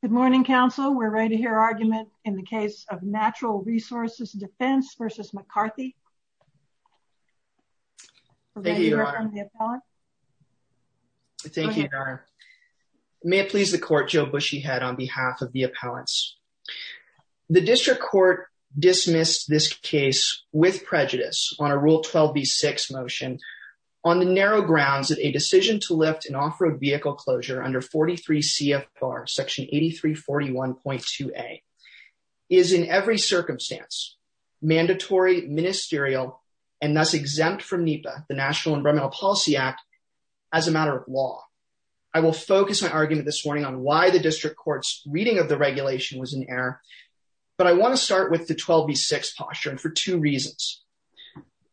Good morning, counsel. We're ready to hear argument in the case of Natural Resources Defense v. McCarthy. Thank you, Your Honor. May it please the court, Joe Bushyhead on behalf of the appellants. The district court dismissed this case with prejudice on a rule 12B6 motion on the narrow grounds that a decision to lift an off-road vehicle closure under 43 CFR section 8341.2a is in every circumstance, mandatory, ministerial, and thus exempt from NEPA, the National Environmental Policy Act, as a matter of law. I will focus my argument this morning on why the district court's reading of the regulation was an error, but I want to start with the 12B6 posture and for two reasons.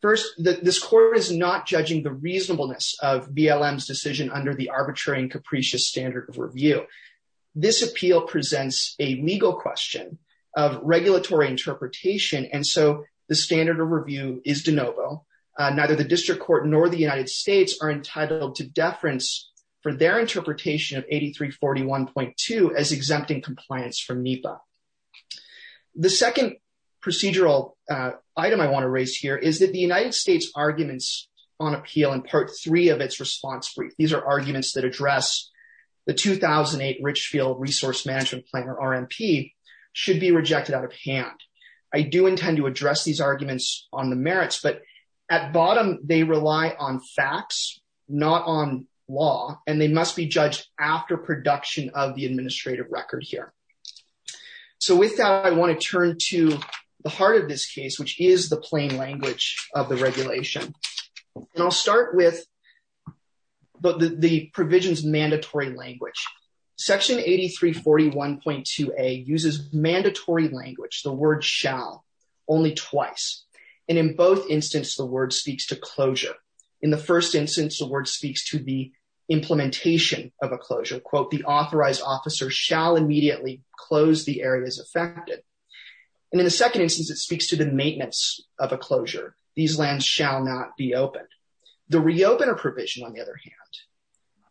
First, this court is not judging the reasonableness of BLM's decision under the arbitrary and capricious standard of review. This appeal presents a legal question of regulatory interpretation. And so the standard of review is de novo. Neither the district court nor the United States are entitled to deference for their interpretation of 8341.2 as exempting compliance from NEPA. The second procedural item I want to raise here is that the United States arguments on appeal in part three of its response brief, these are arguments that address the 2008 Richfield Resource Management Plan, or RMP, should be rejected out of hand. I do intend to address these arguments on the merits, but at bottom, they rely on facts, not on law, and they must be judged after production of the administrative record here. So with that, I want to turn to the heart of this case, which is the plain language of the regulation. And I'll start with the provision's mandatory language. Section 8341.2a uses mandatory language, the word shall, only twice. And in both instances, the word speaks to closure. In the first instance, the word speaks to the implementation of a closure. Quote, the authorized officer shall immediately close the areas affected. And in the second instance, it speaks to the maintenance of a closure. These lands shall not be opened. The reopener provision, on the other hand,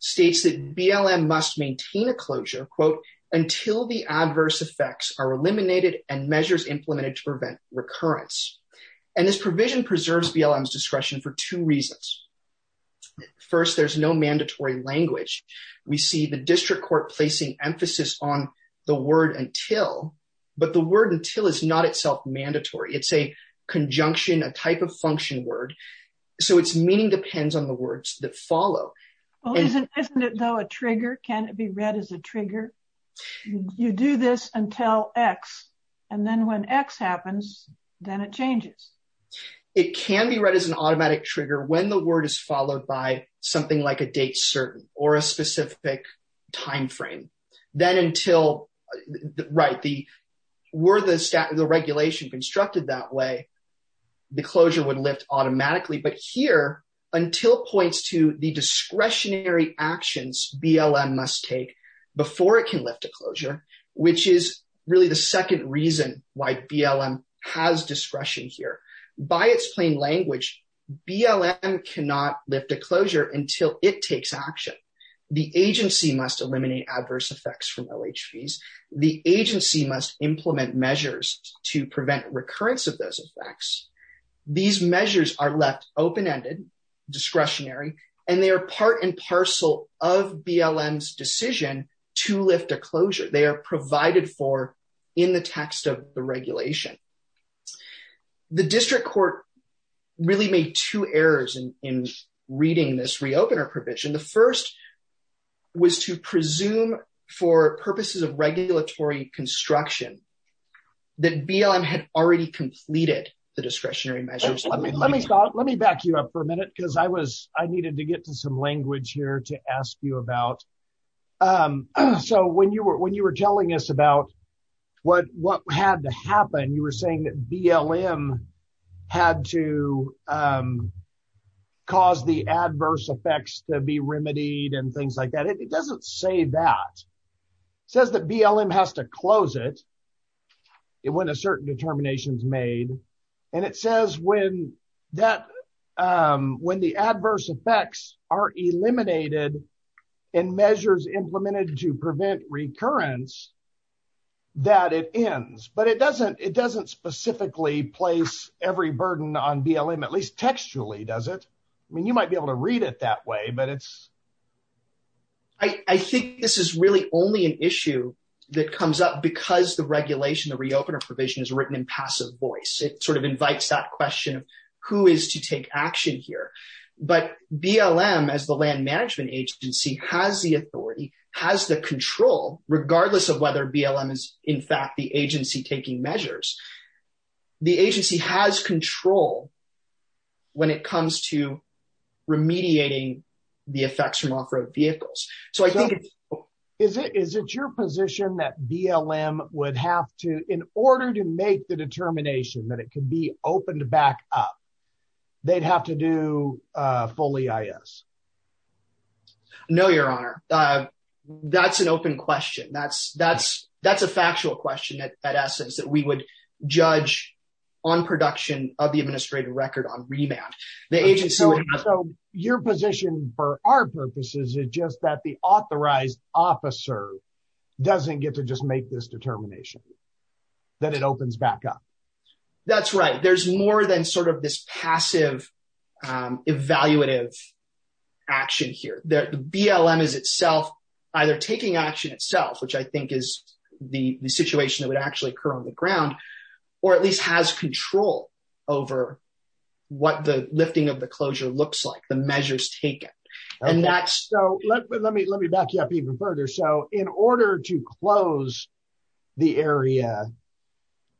states that BLM must maintain a closure, quote, until the adverse effects are eliminated and measures implemented to prevent recurrence. And this provision preserves BLM's discretion for two reasons. First, there's no mandatory language. We see the district court placing emphasis on the word until, but the word until is not itself mandatory. It's a conjunction, a type of function word. So it's meaning depends on the words that follow. Well, isn't, isn't it though a trigger? Can it be read as a trigger? You do this until X, and then when X happens, then it changes. It can be read as an automatic trigger when the word is followed by something like a date certain or a specific timeframe, then until, right, the, were the regulation constructed that way, the closure would lift automatically. But here, until points to the discretionary actions BLM must take before it can lift a closure, which is really the second reason why BLM has discretion here. By its plain language, BLM cannot lift a closure until it takes action. The agency must eliminate adverse effects from OHVs. The agency must implement measures to prevent recurrence of those effects. These measures are left open-ended, discretionary, and they are part and parcel of BLM's decision to lift a closure. They are provided for in the text of the regulation. The district court really made two errors in reading this re-opener provision. The first was to presume for purposes of regulatory construction that BLM had already completed the discretionary measures. Let me back you up for a minute because I was, I needed to get to some language here to ask you about. So when you were, when you were telling us about what, what had to happen, and you were saying that BLM had to cause the adverse effects to be remedied and things like that, it doesn't say that, it says that BLM has to close it when a certain determination is made, and it says when that, when the adverse effects are eliminated and measures implemented to prevent recurrence, that it ends, but it doesn't, it doesn't specifically place every burden on BLM, at least textually, does it? I mean, you might be able to read it that way, but it's. I think this is really only an issue that comes up because the regulation, the re-opener provision is written in passive voice. It sort of invites that question of who is to take action here, but BLM as the management agency has the authority, has the control, regardless of whether BLM is in fact, the agency taking measures. The agency has control when it comes to remediating the effects from off-road vehicles. So I think it's. Is it, is it your position that BLM would have to, in order to make the determination that it can be opened back up, they'd have to do a full EIS? No, your honor. That's an open question. That's, that's, that's a factual question that, at essence, that we would judge on production of the administrative record on remand, the agency would have to. Your position for our purposes is just that the authorized officer doesn't get to just make this determination, that it opens back up. That's right. There's more than sort of this passive, evaluative action here. The BLM is itself either taking action itself, which I think is the situation that would actually occur on the ground, or at least has control over what the lifting of the closure looks like, the measures taken. And that's, so let me, let me back you up even further. So in order to close the area,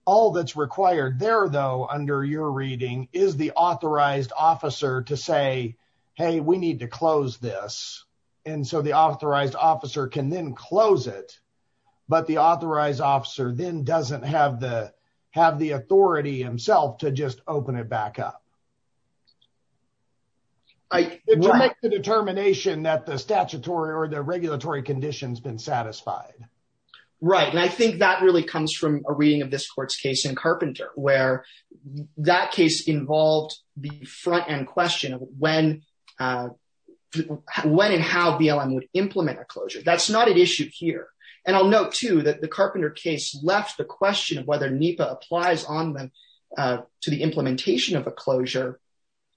all that's required there though, under your reading, is the authorized officer to say, hey, we need to close this. And so the authorized officer can then close it, but the authorized officer then doesn't have the, have the authority himself to just open it back up. To make the determination that the statutory or the regulatory condition has been satisfied. Right. And I think that really comes from a reading of this court's case in Carpenter, where that case involved the front end question of when, when and how BLM would implement a closure. That's not an issue here. And I'll note too, that the Carpenter case left the question of whether NEPA applies on the, to the implementation of a closure.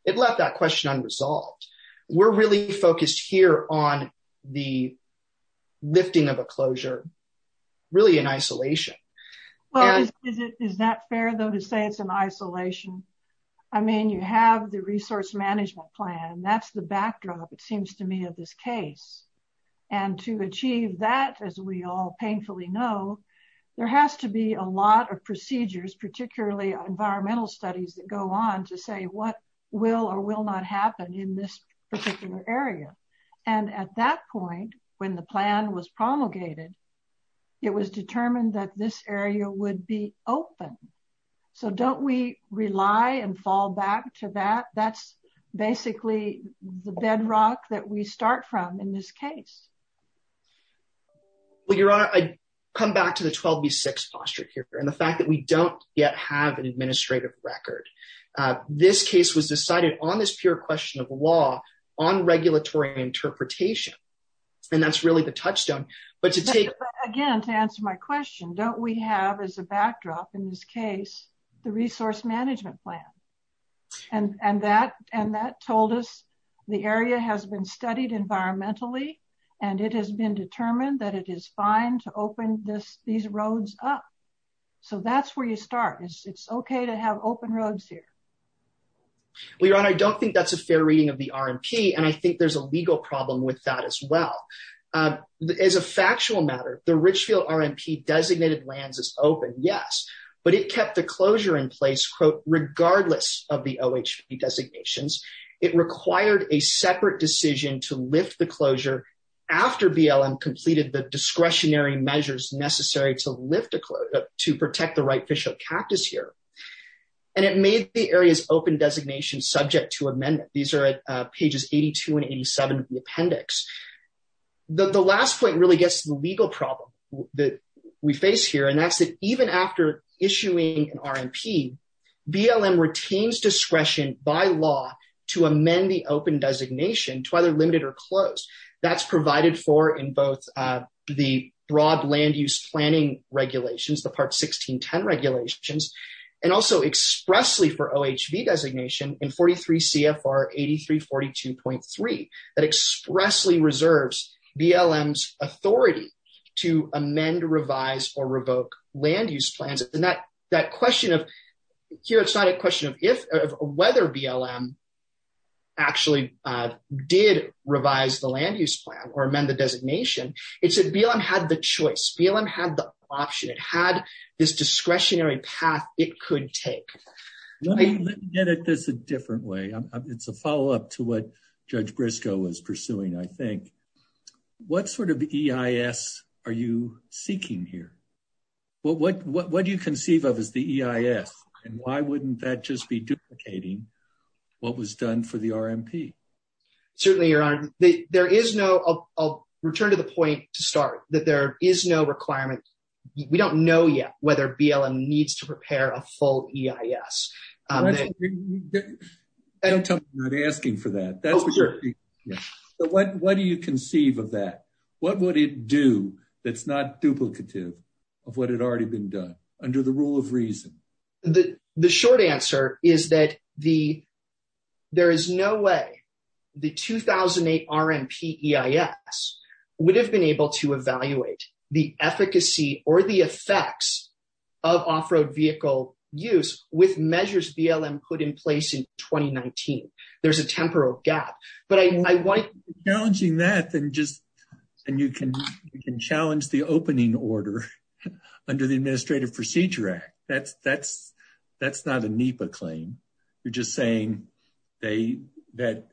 It left that question unresolved. We're really focused here on the lifting of a closure, really in isolation. Well, is it, is that fair though, to say it's an isolation? I mean, you have the resource management plan, that's the backdrop. It seems to me of this case and to achieve that, as we all painfully know, there has to be a lot of procedures, particularly environmental studies that go on to say what will or will not happen in this particular area. And at that point, when the plan was promulgated, it was determined that this area would be open. So don't we rely and fall back to that? That's basically the bedrock that we start from in this case. Well, Your Honor, I come back to the 12B6 posture here and the fact that we don't yet have an administrative record. This case was decided on this pure question of law, on regulatory interpretation, and that's really the touchstone, but to take... Again, to answer my question, don't we have as a backdrop in this case, the resource management plan? And that, and that told us the area has been studied environmentally and it has been determined that it is fine to open this, these roads up. So that's where you start. It's okay to have open roads here. Well, Your Honor, I don't think that's a fair reading of the RMP. And I think there's a legal problem with that as well. As a factual matter, the Richfield RMP designated lands is open. Yes, but it kept the closure in place, quote, regardless of the OHP designations. It required a separate decision to lift the closure after BLM completed the discretionary measures necessary to lift the closure, to protect the right fish of cactus here, and it made the areas open designation subject to amendment. These are pages 82 and 87 of the appendix. The last point really gets to the legal problem that we face here. And that's that even after issuing an RMP, BLM retains discretion by law to amend the open designation to either limited or closed. That's provided for in both the broad land use planning regulations, the part 1610 regulations, and also expressly for OHV designation in 43 CFR 8342.3, that expressly reserves BLM's authority to amend, revise, or revoke land use plans. That question of here, it's not a question of whether BLM actually did revise the land use plan or amend the designation. It's that BLM had the choice. BLM had the option. It had this discretionary path it could take. Let me get at this a different way. It's a follow-up to what Judge Briscoe was pursuing, I think. What sort of EIS are you seeking here? Well, what do you conceive of as the EIS and why wouldn't that just be duplicating what was done for the RMP? Certainly, Your Honor, there is no, I'll return to the point to start, that there is no requirement. We don't know yet whether BLM needs to prepare a full EIS. Don't tell me you're not asking for that. That's what you're seeking. But what do you conceive of that? What would it do that's not duplicative? Of what had already been done under the rule of reason. The short answer is that there is no way the 2008 RMP EIS would have been able to evaluate the efficacy or the effects of off-road vehicle use with measures BLM put in place in 2019. There's a temporal gap. But I like challenging that and just, and you can challenge the opening order under the Administrative Procedure Act. That's not a NEPA claim. You're just saying that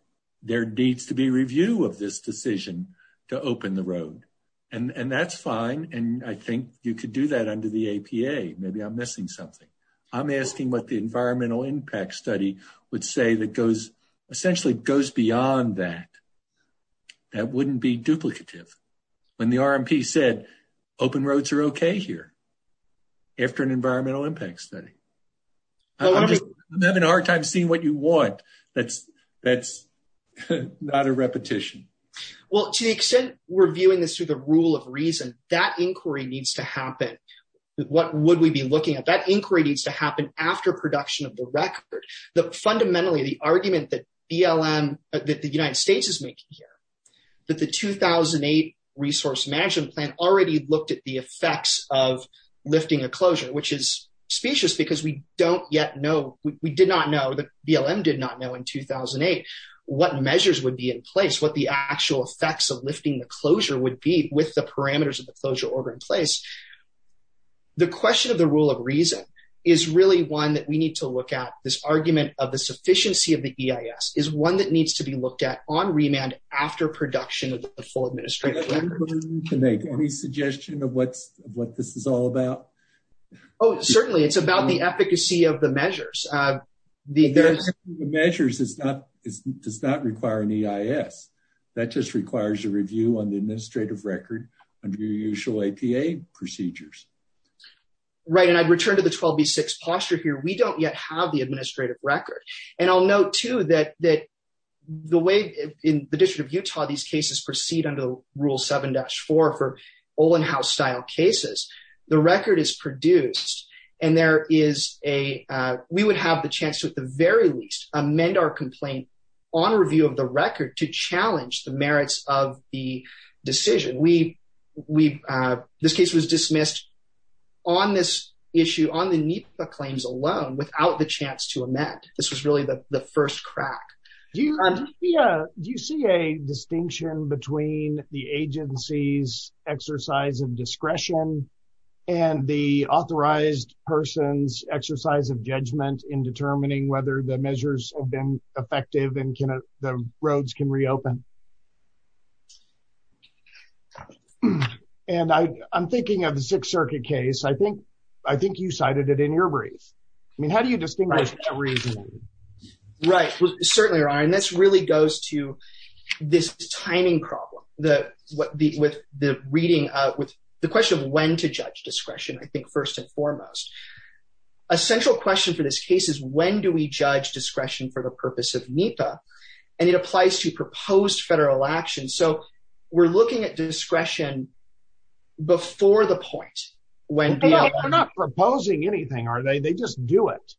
there needs to be review of this decision to open the road. And that's fine. And I think you could do that under the APA. Maybe I'm missing something. I'm asking what the environmental impact study would say that goes, essentially goes beyond that. That wouldn't be duplicative. When the RMP said open roads are okay here after an environmental impact study. I'm having a hard time seeing what you want. That's not a repetition. Well, to the extent we're viewing this through the rule of reason, that inquiry needs to happen. What would we be looking at? That inquiry needs to happen after production of the record. Fundamentally, the argument that BLM, that the United States is making here, that the 2008 Resource Management Plan already looked at the effects of lifting a closure, which is specious because we don't yet know, we did not know, the BLM did not know in 2008, what measures would be in place, what the actual effects of lifting the closure would be with the parameters of the closure order in place. The question of the rule of reason is really one that we need to look at. This argument of the sufficiency of the EIS is one that needs to be looked at on remand after production of the full administrative record. Can I make any suggestion of what this is all about? Oh, certainly. It's about the efficacy of the measures. The efficacy of the measures does not require an EIS. That just requires a review on the administrative record under your usual APA procedures. Right. And I'd return to the 12B6 posture here. We don't yet have the administrative record. And I'll note, too, that the way in the District of Utah, these cases proceed under Rule 7-4 for Olin House-style cases, the record is produced and there is a, we would have the chance to, at the very least, amend our complaint on review of the record to challenge the merits of the decision. We, this case was dismissed on this issue, on the NEPA claims alone, without the chance to amend. This was really the first crack. Do you see a distinction between the agency's exercise of discretion and the authorized person's exercise of judgment in determining whether the measures have been effective and the roads can reopen? And I'm thinking of the Sixth Circuit case. I think, I think you cited it in your brief. I mean, how do you distinguish between the two? Right. Well, certainly, Ron, and this really goes to this timing problem. The, with the reading, with the question of when to judge discretion, I think, first and foremost. A central question for this case is when do we judge discretion for the purpose of NEPA, and it applies to proposed federal action. So, we're looking at discretion before the point when. They're not proposing anything, are they? They just do it.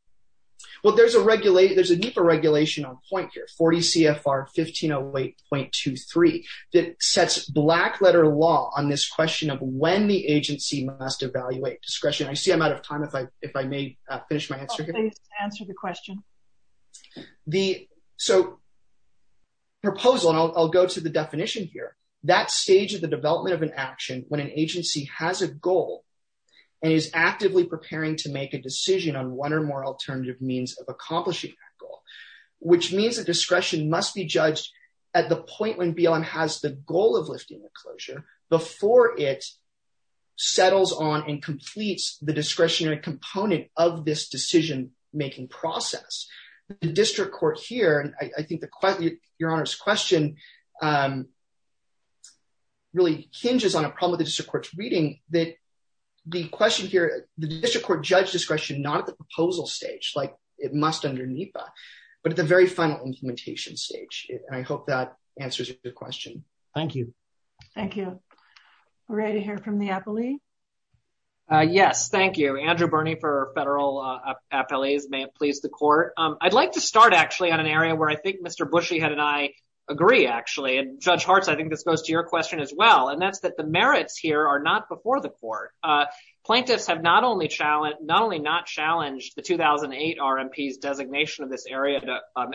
Well, there's a regulation, there's a NEPA regulation on point here, 40 CFR 1508.23, that sets black letter law on this question of when the agency must evaluate discretion. I see I'm out of time. If I, if I may finish my answer. Please answer the question. The, so proposal, and I'll go to the definition here, that stage of the development of an action when an agency has a goal and is actively preparing to make a decision on one or more alternative means of accomplishing that goal, which means that discretion must be judged at the point when BLM has the goal of lifting the closure before it settles on and completes the discretionary component of this decision-making process. The district court here, and I think the question, your Honor's question, really hinges on a problem with the district court's reading that the question here, the district court judged discretion not at the proposal stage, like it must under NEPA, but at the very final implementation stage. And I hope that answers your question. Thank you. Thank you. We're ready to hear from the appellee. Yes. Thank you. Thank you. Andrew Birney for federal appellees, may it please the court. I'd like to start actually on an area where I think Mr. Bushyhead and I agree actually, and Judge Hartz, I think this goes to your question as well, and that's that the merits here are not before the court. Plaintiffs have not only challenged, not only not challenged the 2008 RMP's designation of this area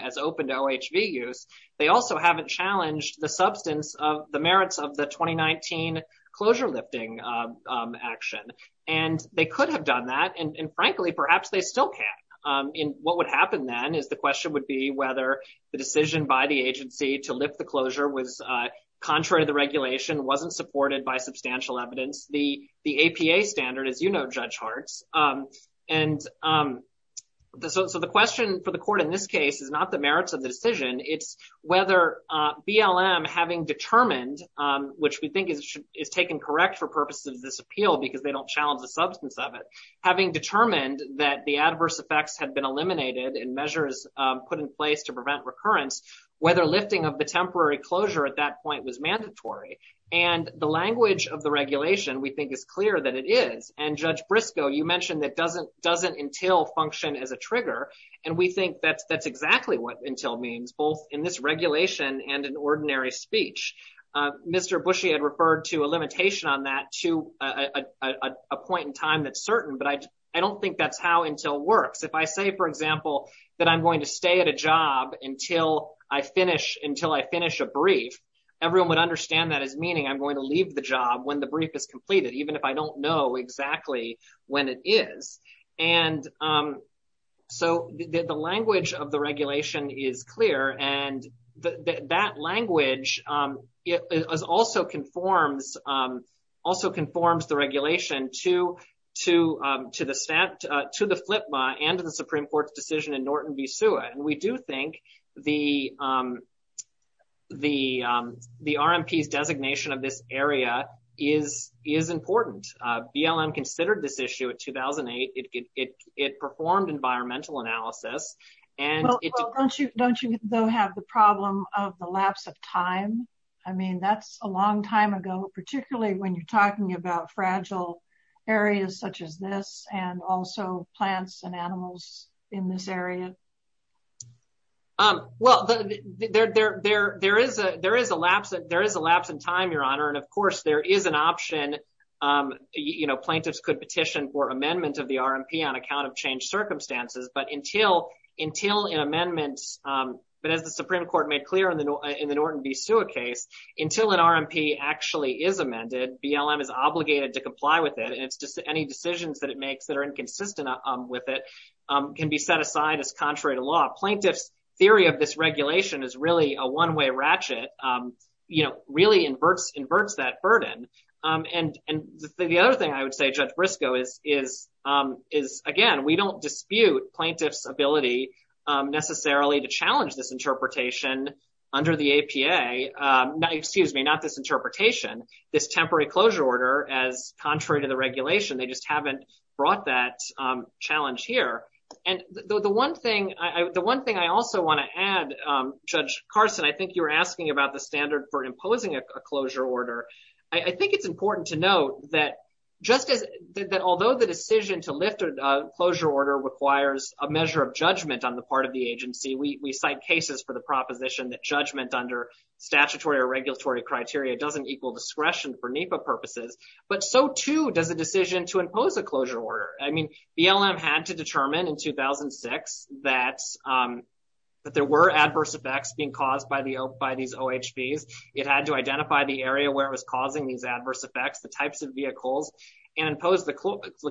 as open to OHV use, they also haven't challenged the substance of the merits of the 2019 closure lifting action. And they could have done that, and frankly, perhaps they still can. What would happen then is the question would be whether the decision by the agency to lift the closure was contrary to the regulation, wasn't supported by substantial evidence, the APA standard, as you know, Judge Hartz, and so the question for the court in this case is not the merits of the decision. It's whether BLM, having determined, which we think is taken correct for purposes of this appeal because they don't challenge the substance of it, having determined that the adverse effects had been eliminated and measures put in place to prevent recurrence, whether lifting of the temporary closure at that point was mandatory. And the language of the regulation we think is clear that it is, and Judge Briscoe, you mentioned that doesn't until function as a trigger, and we think that's exactly what until means, both in this regulation and in ordinary speech. Mr. Bushy had referred to a limitation on that to a point in time that's certain, but I don't think that's how until works. If I say, for example, that I'm going to stay at a job until I finish, until I finish a brief, everyone would understand that as meaning I'm going to leave the job when the brief is completed, even if I don't know exactly when it is. And so the language of the regulation is clear. And that language is also conforms, also conforms the regulation to, to, to the stat, to the FLIPMA and to the Supreme Court's decision in Norton v. Sua. And we do think the, the, the RMP's designation of this area is, is important. BLM considered this issue at 2008. It, it, it performed environmental analysis. And don't you, don't you have the problem of the lapse of time? I mean, that's a long time ago, particularly when you're talking about fragile areas such as this and also plants and animals in this area. Well, there, there, there, there is a, there is a lapse, there is a lapse in time, your honor. And of course there is an option. You know, plaintiffs could petition for amendment of the RMP on account of changed circumstances. But until, until an amendment but as the Supreme Court made clear in the, in the Norton v. Sua case, until an RMP actually is amended, BLM is obligated to comply with it. And it's just any decisions that it makes that are inconsistent with it can be set aside as contrary to law. Plaintiffs' theory of this regulation is really a one-way ratchet, you know, really inverts, inverts that burden. And, and the other thing I would say, Judge Briscoe is, is is again, we don't dispute plaintiff's ability necessarily to challenge this interpretation under the APA, excuse me, not this interpretation, this temporary closure order as contrary to the regulation, they just haven't brought that challenge here. And the one thing I, the one thing I also want to add Judge Carson, I think you were asking about the standard for imposing a closure order. I think it's important to note that just as, that although the decision to lift a closure order requires a measure of judgment on the part of the agency, we, we cite cases for the proposition that judgment under statutory or regulatory criteria doesn't equal discretion for NEPA purposes, but so too does a decision to impose a closure order. I mean, BLM had to determine in 2006 that, that there were adverse effects being caused by the, by these OHVs. It had to identify the area where it was causing these adverse effects, the types of vehicles and impose the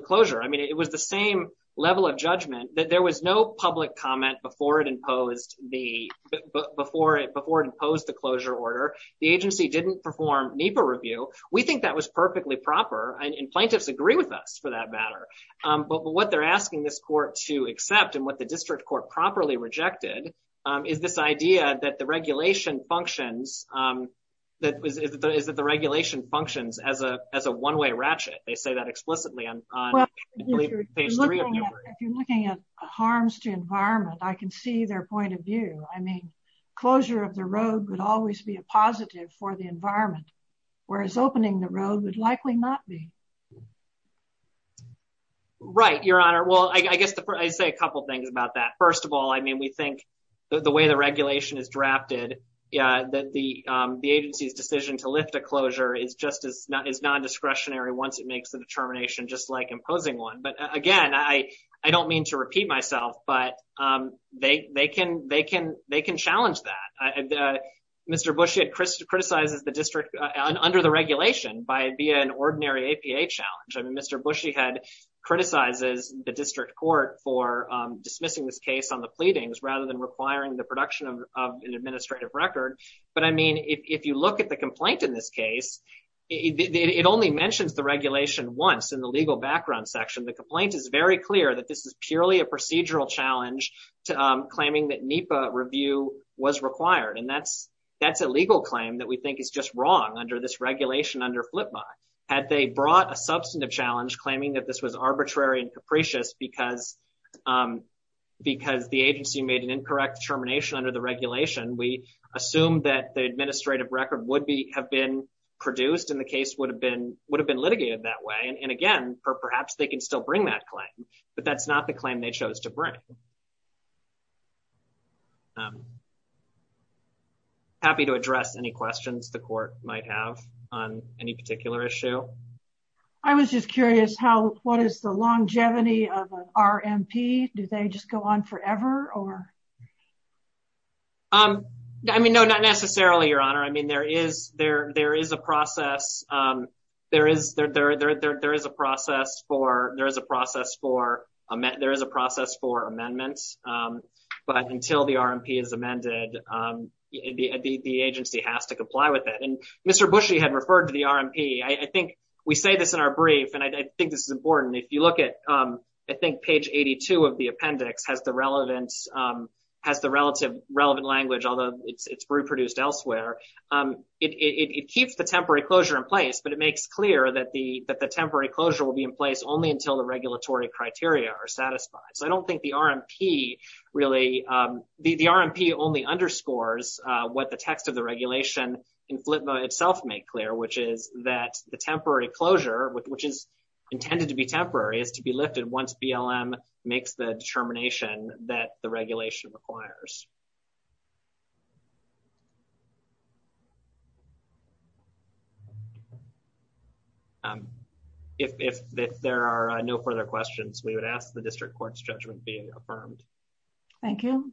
closure. I mean, it was the same level of judgment that there was no public comment before it imposed the, before it, before it imposed the closure order. The agency didn't perform NEPA review. We think that was perfectly proper and plaintiffs agree with us for that matter. But what they're asking this court to accept and what the district court properly rejected is this idea that the regulation functions that is that the regulation functions as a, as a one-way ratchet. They say that explicitly on page three. If you're looking at harms to environment, I can see their point of view. I mean, closure of the road would always be a positive for the environment, whereas opening the road would likely not be. Right. Your honor. Well, I guess I say a couple of things about that. First of all, I mean, we think that the way the regulation is drafted, yeah, that the, the agency's decision to lift a closure is just as not as non-discretionary once it makes the determination, just like imposing one. But again, I, I don't mean to repeat myself, but they, they can, they can, they can challenge that. Mr. Bush had criticized the district under the regulation by being an ordinary APA challenge. I mean, Mr. Bushy had criticizes the district court for dismissing this case on the pleadings rather than requiring the production of an administrative record. But I mean, if you look at the complaint in this case, it only mentions the regulation once in the legal background section, the complaint is very clear that this is purely a procedural challenge to claiming that NEPA review was required. And that's, that's a legal claim that we think is just wrong under this regulation under flip buy. Had they brought a substantive challenge claiming that this was arbitrary and capricious because, because the agency made an incorrect determination under the regulation, we assume that the administrative record would be, have been produced in the case would have been, would have been litigated that way. And again, perhaps they can still bring that claim, but that's not the claim they chose to bring. I'm happy to address any questions the court might have on any particular issue. I was just curious how, what is the longevity of an RMP? Do they just go on forever or? I mean, no, not necessarily your honor. I mean, there is, there, there is a process. There is, there, there, there, there, there is a process for, there is a process for a, there is a process for amendments. But until the RMP is amended, the, the, the agency has to comply with it. Mr. Bushy had referred to the RMP. I think we say this in our brief and I think this is important. If you look at I think page 82 of the appendix has the relevance has the relative relevant language, although it's, it's reproduced elsewhere. It, it, it keeps the temporary closure in place, but it makes clear that the, that the temporary closure will be in place only until the regulatory criteria are satisfied, so I don't think the RMP really the, the RMP only underscores what the text of the regulation in FLTMA itself make clear, which is that the temporary closure, which is intended to be temporary is to be lifted once BLM makes the determination that the regulation requires. If, if, if there are no further questions, we would ask the district court's judgment being affirmed. Thank you.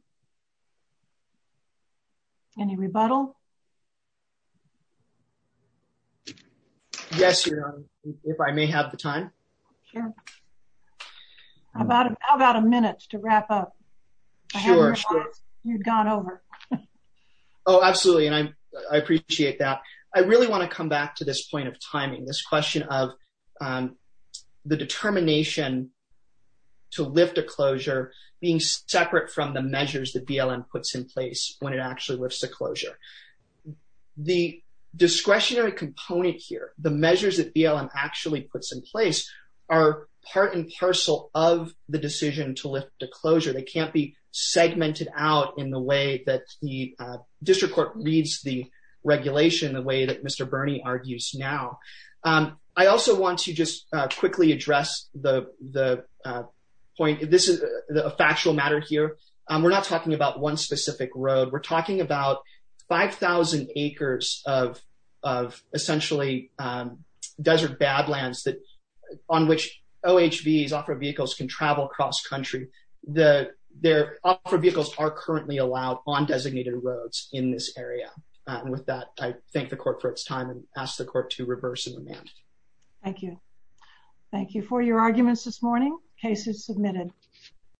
Any rebuttal? Yes, Your Honor. If I may have the time. Sure. How about, how about a minute to wrap up? Sure. I haven't realized you'd gone over. Oh, absolutely. And I, I appreciate that. I really want to come back to this point of timing, this question of the determination to lift a closure being separate from the measure of the measures that BLM puts in place when it actually lifts a closure. The discretionary component here, the measures that BLM actually puts in place are part and parcel of the decision to lift a closure. They can't be segmented out in the way that the district court reads the regulation, the way that Mr. Bernie argues now. I also want to just quickly address the, the point. This is a factual matter here. We're not talking about one specific road. We're talking about 5,000 acres of, of essentially desert badlands that on which OHVs, off-road vehicles, can travel cross country. The, their off-road vehicles are currently allowed on designated roads in this area. And with that, I thank the court for its time and ask the court to reverse the demand. Thank you. Thank you. For your arguments this morning, case is submitted.